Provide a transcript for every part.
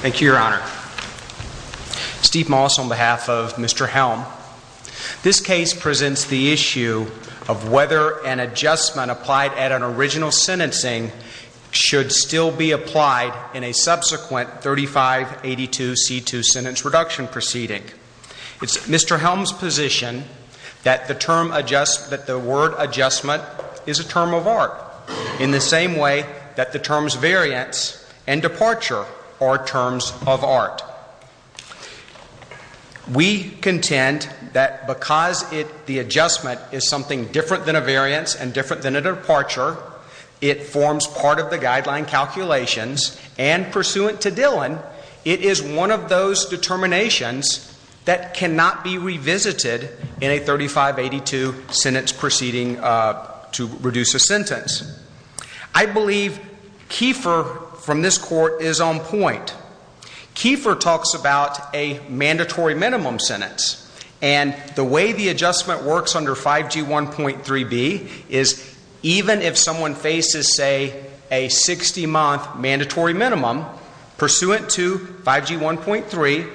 Thank you, Your Honor. Steve Moss on behalf of Mr. Helm. This case presents the issue of whether an adjustment applied at an original sentencing should still be applied in a subsequent 3582C2 sentence reduction proceeding. It's Mr. Helm's position that the word adjustment is a term of art in the same way that the terms variance and departure are terms of art. We contend that because the adjustment is something different than a variance and different than a departure, it forms part of the guideline calculations, and pursuant to Dillon, it is one of those determinations that cannot be revisited in a 3582 sentence proceeding to reduce a sentence. I believe Kiefer from this court is on point. Kiefer talks about a mandatory minimum sentence, and the way the adjustment works under 5G1.3b is even if someone faces, say, a 60-month mandatory minimum, pursuant to 5G1.3,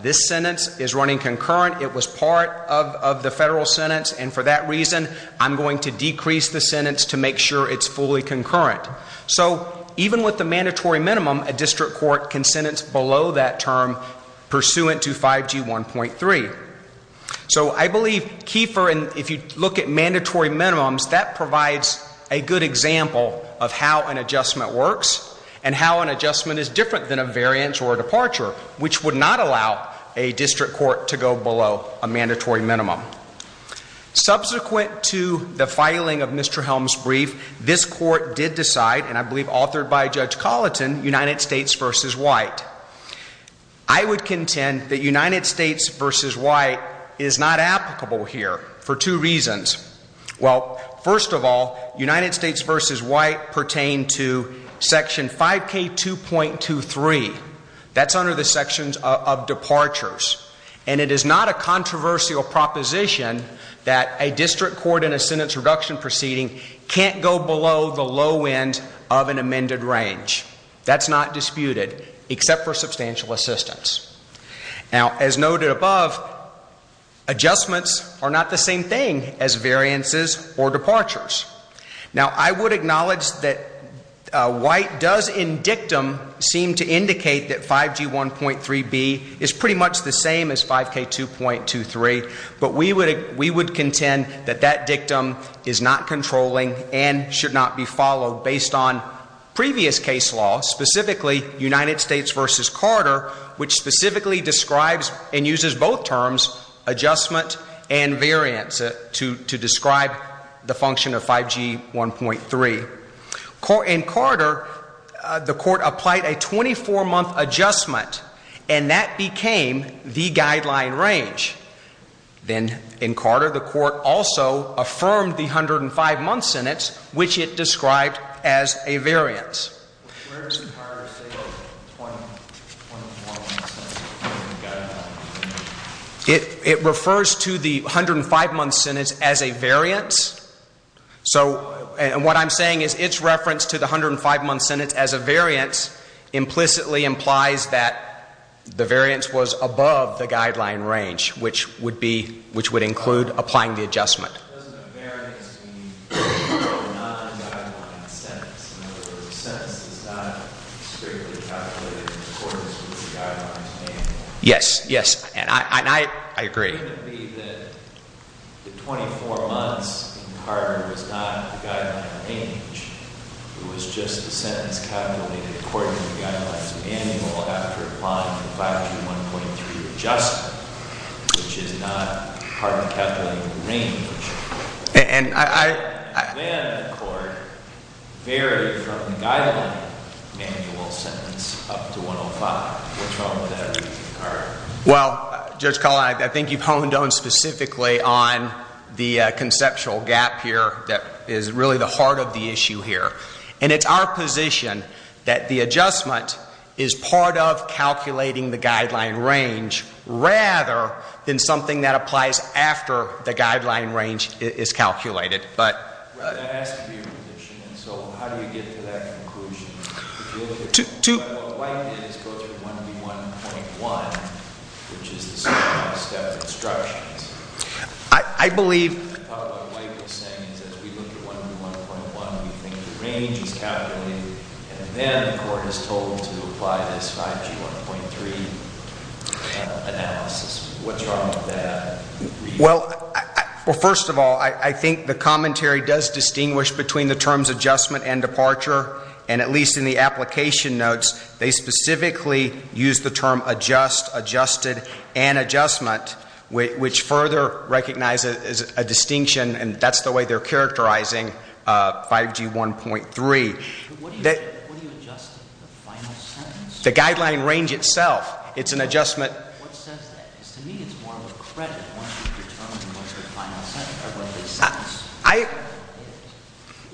the sentence is running concurrent. It was part of the federal sentence, and for that reason, I'm going to decrease the sentence to make sure it's fully concurrent. So even with the mandatory minimum, a district court can sentence below that term pursuant to 5G1.3. So I believe Kiefer, and if you look at mandatory minimums, that provides a good example of how an adjustment works and how an adjustment is different than a variance or a departure, which would not allow a district court to go below a mandatory minimum. Subsequent to the filing of Mr. Helms' brief, this court did decide, and I believe authored by Judge Colleton, United States versus White. I would contend that United States versus White is not applicable here for two reasons. Well, first of all, United States versus White pertain to Section 5K2.23. That's under the sections of departures, and it is not a controversial proposition that a district court in a sentence reduction proceeding can't go below the low end of an amended range. That's not disputed, except for substantial assistance. Now, as noted above, adjustments are not the same thing as variances or departures. Now, I would acknowledge that White does in dictum seem to indicate that 5G1.3b is pretty much the same as 5K2.23, but we would contend that that dictum is not controlling and should not be followed based on previous case law, specifically United States versus Carter, which specifically describes and uses both terms, adjustment and variance, to describe the function of 5G1.3. In Carter, the court applied a 24-month adjustment, and that became the guideline range. Then in Carter, the court also affirmed the 105-month sentence, which it described as a variance. It refers to the 105-month sentence as a variance, so what I'm saying is its reference to the 105-month sentence as a variance implicitly implies that the variance was above the guideline range, which would be, which would include applying the adjustment. Well, Judge Collin, I think you've honed on specifically on the conceptual gap here that is really the heart of the issue here, and it's our position that the adjustment adjustment is part of calculating the guideline range rather than something that applies after the guideline range is calculated, but... Well, that has to be a repetition, and so how do you get to that conclusion? To... Well, first of all, I think the commentary does distinguish between the terms adjustment and departure, and at least in the application notes, they specifically use the term adjust, adjusted, and adjustment, which further recognizes a distinction, and that's the way they're sentence? The guideline range itself. It's an adjustment... What says that? Because to me, it's more of a credit once you've determined what's the final sentence or what the sentence is.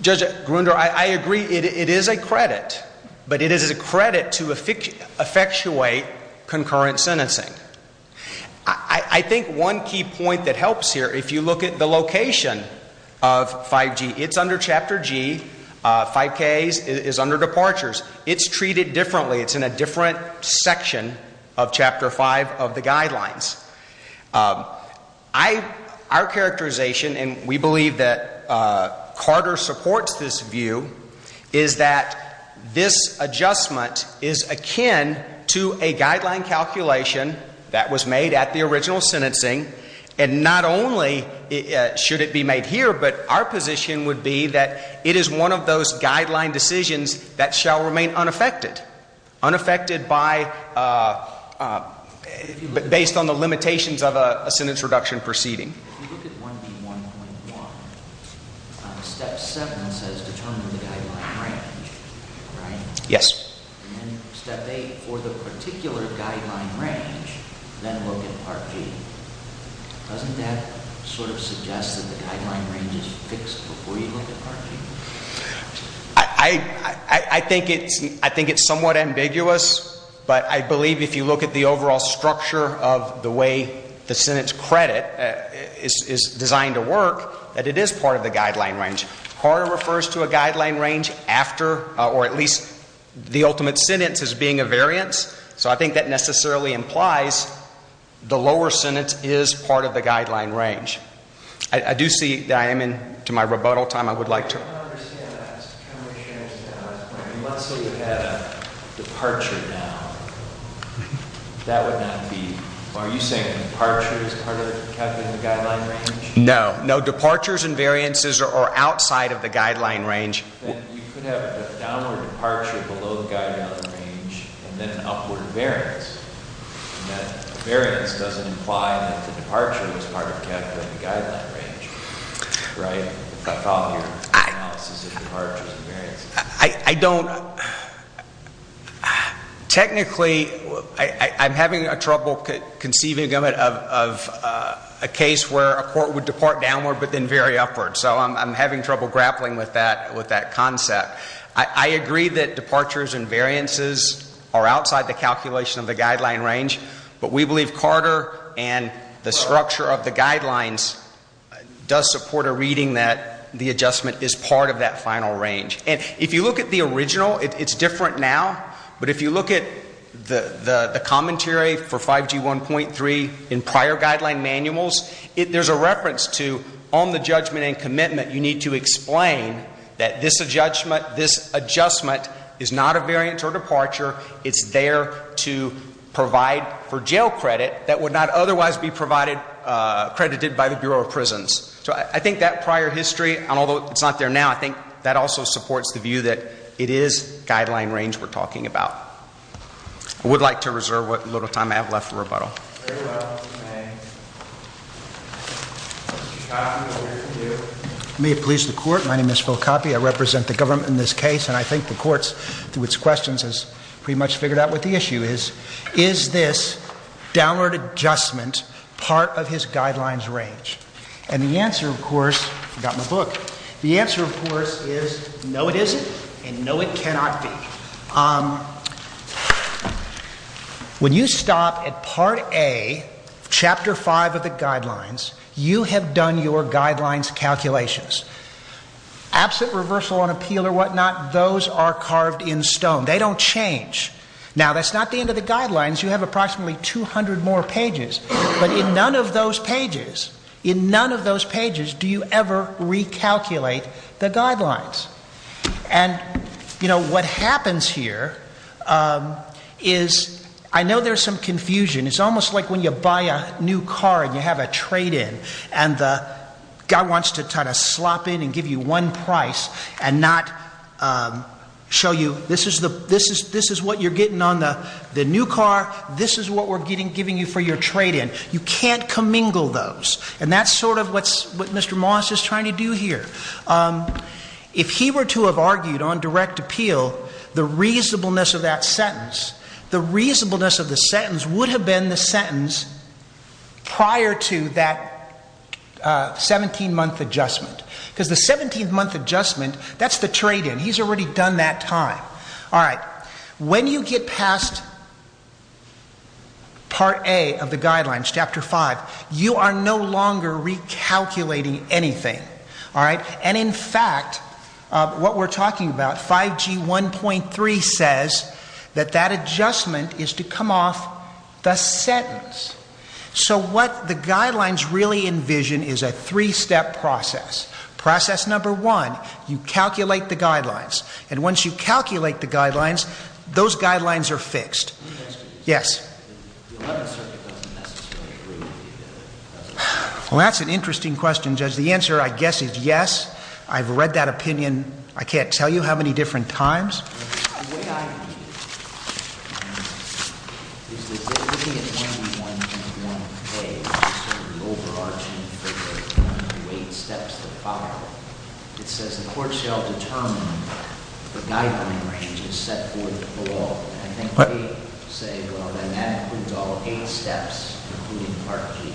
Judge Grunder, I agree. It is a credit, but it is a credit to effectuate concurrent sentencing. I think one key point that helps here, if you look at the location of 5G, it's under in a different section of Chapter 5 of the guidelines. Our characterization, and we believe that Carter supports this view, is that this adjustment is akin to a guideline calculation that was made at the original sentencing, and not only should it be made here, but our unaffected by... based on the limitations of a sentence reduction proceeding. If you look at 1B1.1, Step 7 says determine the guideline range, right? Yes. And then Step 8, for the particular guideline range, then look at Part G. Doesn't that sort of suggest that the guideline range is fixed before you look at Part G? I think it's somewhat ambiguous, but I believe if you look at the overall structure of the way the sentence credit is designed to work, that it is part of the guideline range. Carter refers to a guideline range after, or at least the ultimate sentence as being a variance, so I think that necessarily implies the lower sentence is part of the guideline range. I do see that I am into my rebuttal time. I would like to... I don't understand that. Let's say we had a departure down. That would not be... Are you saying a departure is part of the guideline range? No. No, departures and variances are outside of the guideline range. Then you could have a downward departure below the guideline range, and then an upward variance. And that variance doesn't imply that the departure was part of calculating the guideline range, right, if I follow your analysis of departures and variances? I don't... Technically, I'm having trouble conceiving of a case where a court would depart downward, but then very upward, so I'm having trouble grappling with that concept. I agree that departures and variances are outside the calculation of the guideline range, but we believe Carter and the structure of the guidelines does support a reading that the adjustment is part of that final range. And if you look at the original, it's different now, but if you look at the commentary for 5G 1.3 in prior guideline manuals, there's a reference to on the judgment and commitment, you need to explain that this adjustment is not a variance or departure. It's there to provide for jail credit that would not otherwise be provided... credited by the Bureau of Prisons. So I think that prior history, and although it's not there now, I think that also supports the view that it is guideline range we're talking about. I would like to reserve what little time I have left for rebuttal. Very well. Mr. Coppe, over to you. May it please the Court. My name is Phil Coppe. I represent the government in this case, and I think the Court, through its questions, has pretty much figured out what the issue is. Is this downward adjustment part of his guidelines range? And the answer, of course... I forgot my book. The answer, of course, is no, it isn't, and no, it cannot be. When you stop at Part A, Chapter 5 of the guidelines, you have done your guidelines calculations. Absent reversal on appeal or whatnot, those are carved in stone. They don't change. Now, that's not the end of the guidelines. You have approximately 200 more pages, but in none of those pages, in none of those pages do you ever recalculate the guidelines. And what happens here is I know there's some confusion. It's almost like when you buy a new car and you have a trade-in, and the guy wants to try to slop in and give you one price and not show you this is what you're getting on the new car, this is what we're giving you for your trade-in. You can't commingle those. And that's sort of what Mr. Moss is trying to do here. If he were to have argued on direct appeal, the reasonableness of that sentence, the reasonableness of the sentence would have been the sentence prior to that 17-month adjustment. Because the 17-month adjustment, that's the trade-in. He's already done that time. All right. When you get past Part A of the guidelines, Chapter 5, you are no longer recalculating anything. All right. And in fact, what we're talking about, 5G 1.3 says that that adjustment is to come off the sentence. So what the guidelines really envision is a three-step process. Process number one, you calculate the guidelines. And once you calculate the guidelines, those guidelines are fixed. Yes. Well, that's an interesting question, Judge. The answer, I guess, is yes. I've read that opinion. I can't tell you how many different times. The way I read it is that they're looking at 21 and 1A as sort of the overarching figure of the eight steps that follow. It says the court shall determine the guideline range is set for the fall. I think they say, well, then that includes all eight steps, including Part G.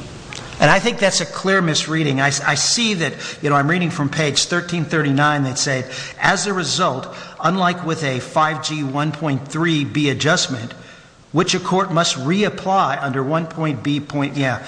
And I think that's a clear misreading. I see that, you know, I'm reading from page 1339 that said, as a result, unlike with a 5G 1.3B adjustment, which a court must reapply under 1.B point, yeah.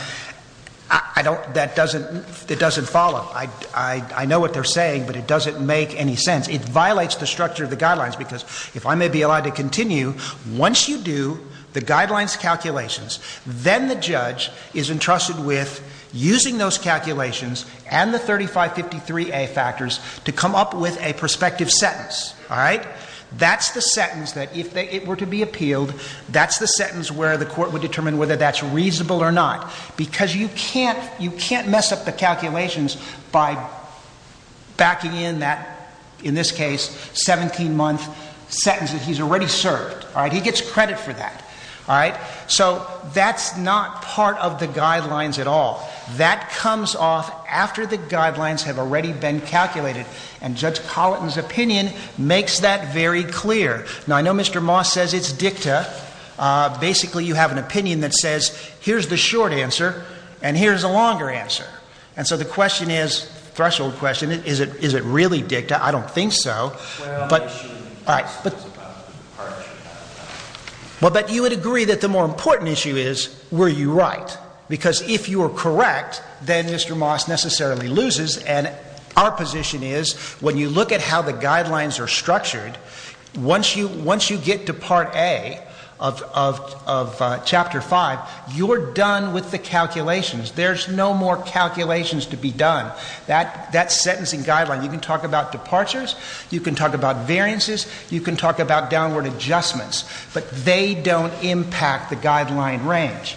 I don't, that doesn't, it doesn't follow. I know what they're saying, but it doesn't make any sense. It violates the structure of the guidelines, because if I may be allowed to continue, once you do the guidelines calculations, then the judge is entrusted with using those calculations and the 3553A factors to come up with a prospective sentence, all right? That's the sentence that if they, it were to be appealed, that's the sentence where the court would determine whether that's reasonable or not. Because you can't, you can't mess up the calculations by backing in that, in this case, 17-month sentence that he gets credit for that, all right? So that's not part of the guidelines at all. That comes off after the guidelines have already been calculated. And Judge Colleton's opinion makes that very clear. Now, I know Mr. Moss says it's dicta. Basically, you have an opinion that says, here's the short answer and here's a longer answer. And so the question is, threshold question, is it, is it really dicta? I don't think so. All right. Well, but you would agree that the more important issue is, were you right? Because if you were correct, then Mr. Moss necessarily loses. And our position is, when you look at how the guidelines are structured, once you, once you get to Part A of, of, of Chapter 5, you're done with the calculations. There's no more calculations to be done. That, that sentencing guideline, you can talk about departures, you can talk about variances, you can talk about downward adjustments, but they don't impact the guideline range.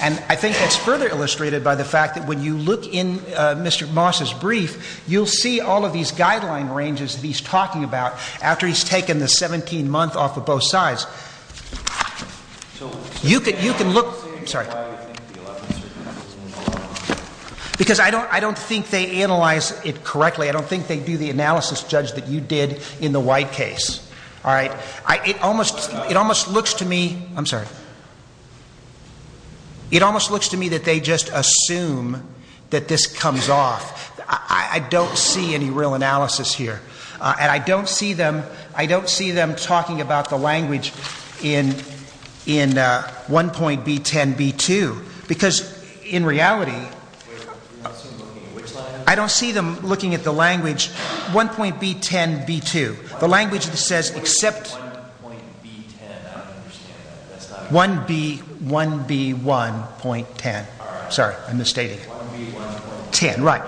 And I think that's further illustrated by the fact that when you look in Mr. Moss's brief, you'll see all of these guideline ranges that he's talking about, after he's taken the 17-month off of both sides. You can, you can look, sorry. Because I don't, I don't think they analyze it correctly. I don't think they do the analysis, Judge, that you did in the White case. All right. It almost, it almost looks to me, I'm sorry, it almost looks to me that they just assume that this comes off. I, I don't see any real analysis here. And I don't see them, I don't see them talking about the language in, in 1.B10.B2. Because in reality, I don't see them looking at the language 1.B10.B2. The language that says except, 1B, 1B1.10. Sorry, I'm misstating. 1B1.10. Right.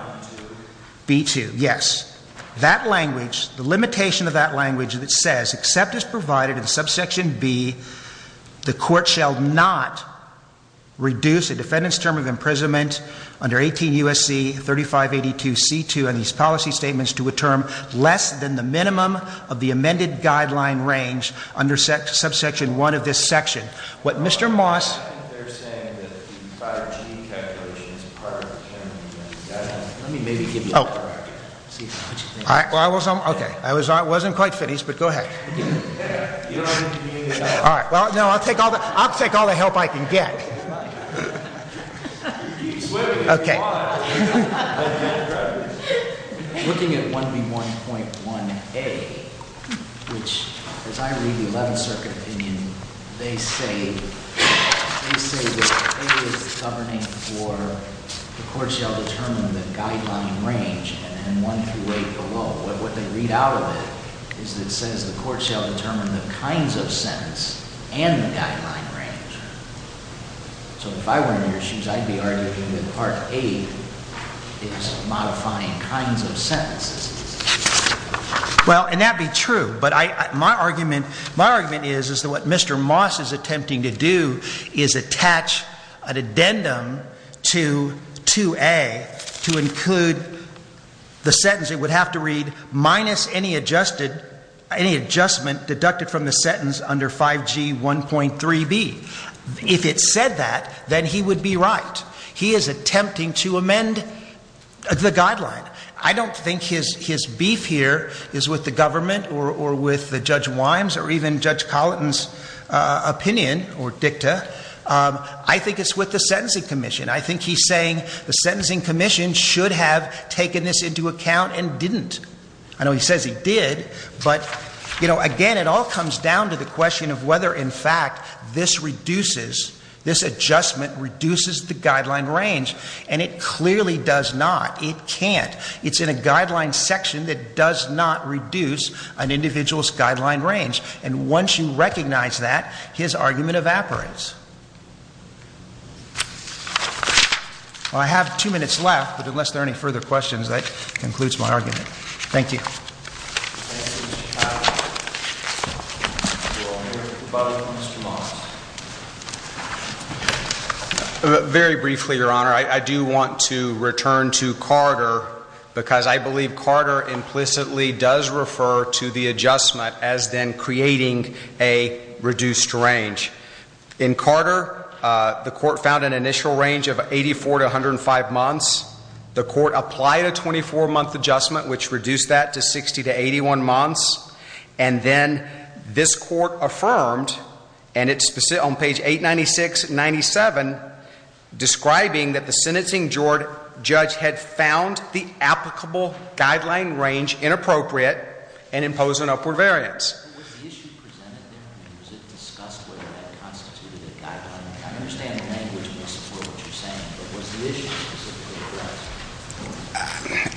B2. B2. Yes. That language, the limitation of that language that says except as provided in subsection B, the court shall not reduce a defendant's term of imprisonment under 18 U.S.C. 3582C2 and these policy statements to a term less than the minimum of the amended guideline range under subsection 1 of this section. What Mr. Moss I think they're saying that the 5G calculation is part of the 10 U.S. Guidelines. Let me maybe give you a paragraph to see what you think. All right. Well, I was, okay. I was, I wasn't quite finished, but go ahead. All right. Well, no, I'll take all the, I'll take all the help I can get. Okay. Looking at 1B1.1A, which, as I read the 11th Circuit opinion, they say, they say that A is governing for the court shall determine the guideline range and 1 through 8 below. What they read out of it is it says the court shall determine the kinds of sentence and the guideline range. So if I were in your shoes, I'd be arguing that Part A is modifying kinds of sentences. Well, and that'd be true, but I, my argument, my argument is, is that what Mr. Moss is attempting to do is attach an addendum to 2A to include the sentence it would have to read minus any adjusted, any adjustment deducted from the sentence under 5G1.3B. If it said that, then he would be right. He is attempting to amend the guideline. I don't think his, his beef here is with the government or, or with the Judge Wimes or even Judge Colleton's opinion or dicta. I think it's with the Sentencing Commission. I think he's saying the Sentencing Commission should have taken this into account and didn't. I know he says he did, but, you know, again, it all comes down to the question of whether, in fact, this reduces, this adjustment reduces the guideline range, and it clearly does not. It can't. It's in a guideline section that does not reduce an individual's guideline range. And once you recognize that, his argument evaporates. Well, I have two minutes left, but unless there are any further questions, that concludes my argument. Thank you. Thank you, Mr. Patterson. Do you want to make a proposal, Mr. Moss? Very briefly, Your Honor. I, I do want to return to Carter because I believe Carter implicitly does refer to the adjustment as then creating a reduced range. In Carter, the Court found an initial range of 84 to 105 months. The Court applied a 24-month adjustment which reduced that to 60 to 81 months, and then this Court affirmed, and it's specific on page 896-97, describing that the sentencing judge had found the applicable guideline range inappropriate and imposed an upward variance. Was the issue presented there? I mean, was it discussed whether that constituted a guideline? I understand the language and I support what you're saying, but was the issue specifically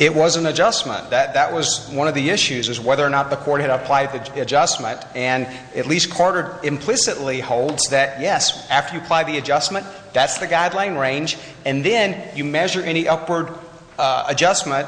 It was an adjustment. That, that was one of the issues is whether or not the Court had applied the adjustment, and at least Carter implicitly holds that, yes, after you apply the adjustment, that's the guideline range, and then you measure any upward adjustment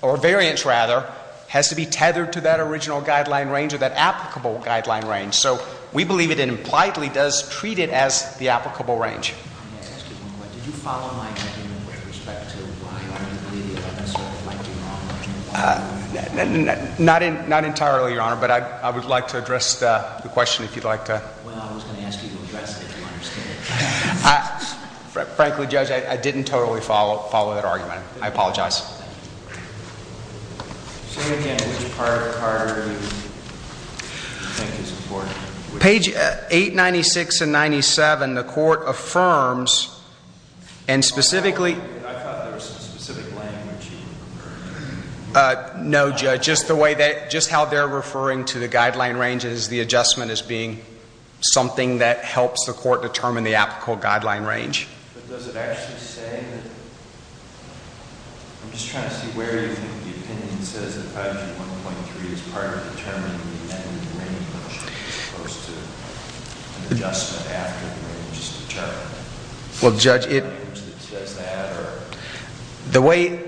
or variance, rather, has to be tethered to that original guideline range or that applicable guideline range. So we believe it and impliedly does treat it as the applicable range. Excuse me, but did you follow my argument with respect to why I completely understood what might be wrong? Not entirely, Your Honor, but I would like to address the question if you'd like to. Well, I was going to ask you to address it if you understand it. Frankly, Judge, I didn't totally follow that argument. I apologize. Say again, which part of Carter do you think is important? Page 896 and 97, the Court affirms, and specifically I thought there was some specific language you referred to. No, Judge, just the way that, just how they're referring to the guideline range as the adjustment as being something that helps the Court determine the applicable guideline range. But does it actually say that, I'm just trying to see where the opinion says that page 1.3 is part of determining the end range, as opposed to an adjustment after the range is determined? Well, Judge, the way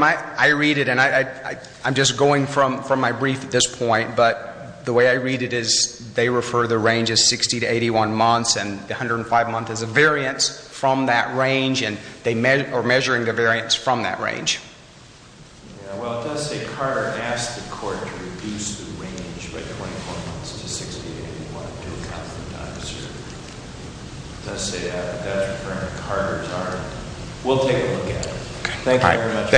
I read it, and I'm just going from my brief at this point, but the way I read it is they refer to the range as 60 to 81 months and 105 months as a variance from that range, or measuring the variance from that range. Well, it does say Carter asked the Court to reduce the range by 24 months to 60 to 81 months. It does say that, but that's referring to Carter's argument. We'll take a look at it. Thank you very much.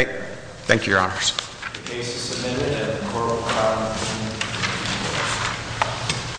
Thank you, Your Honors. The case is submitted and the Court will call the hearing.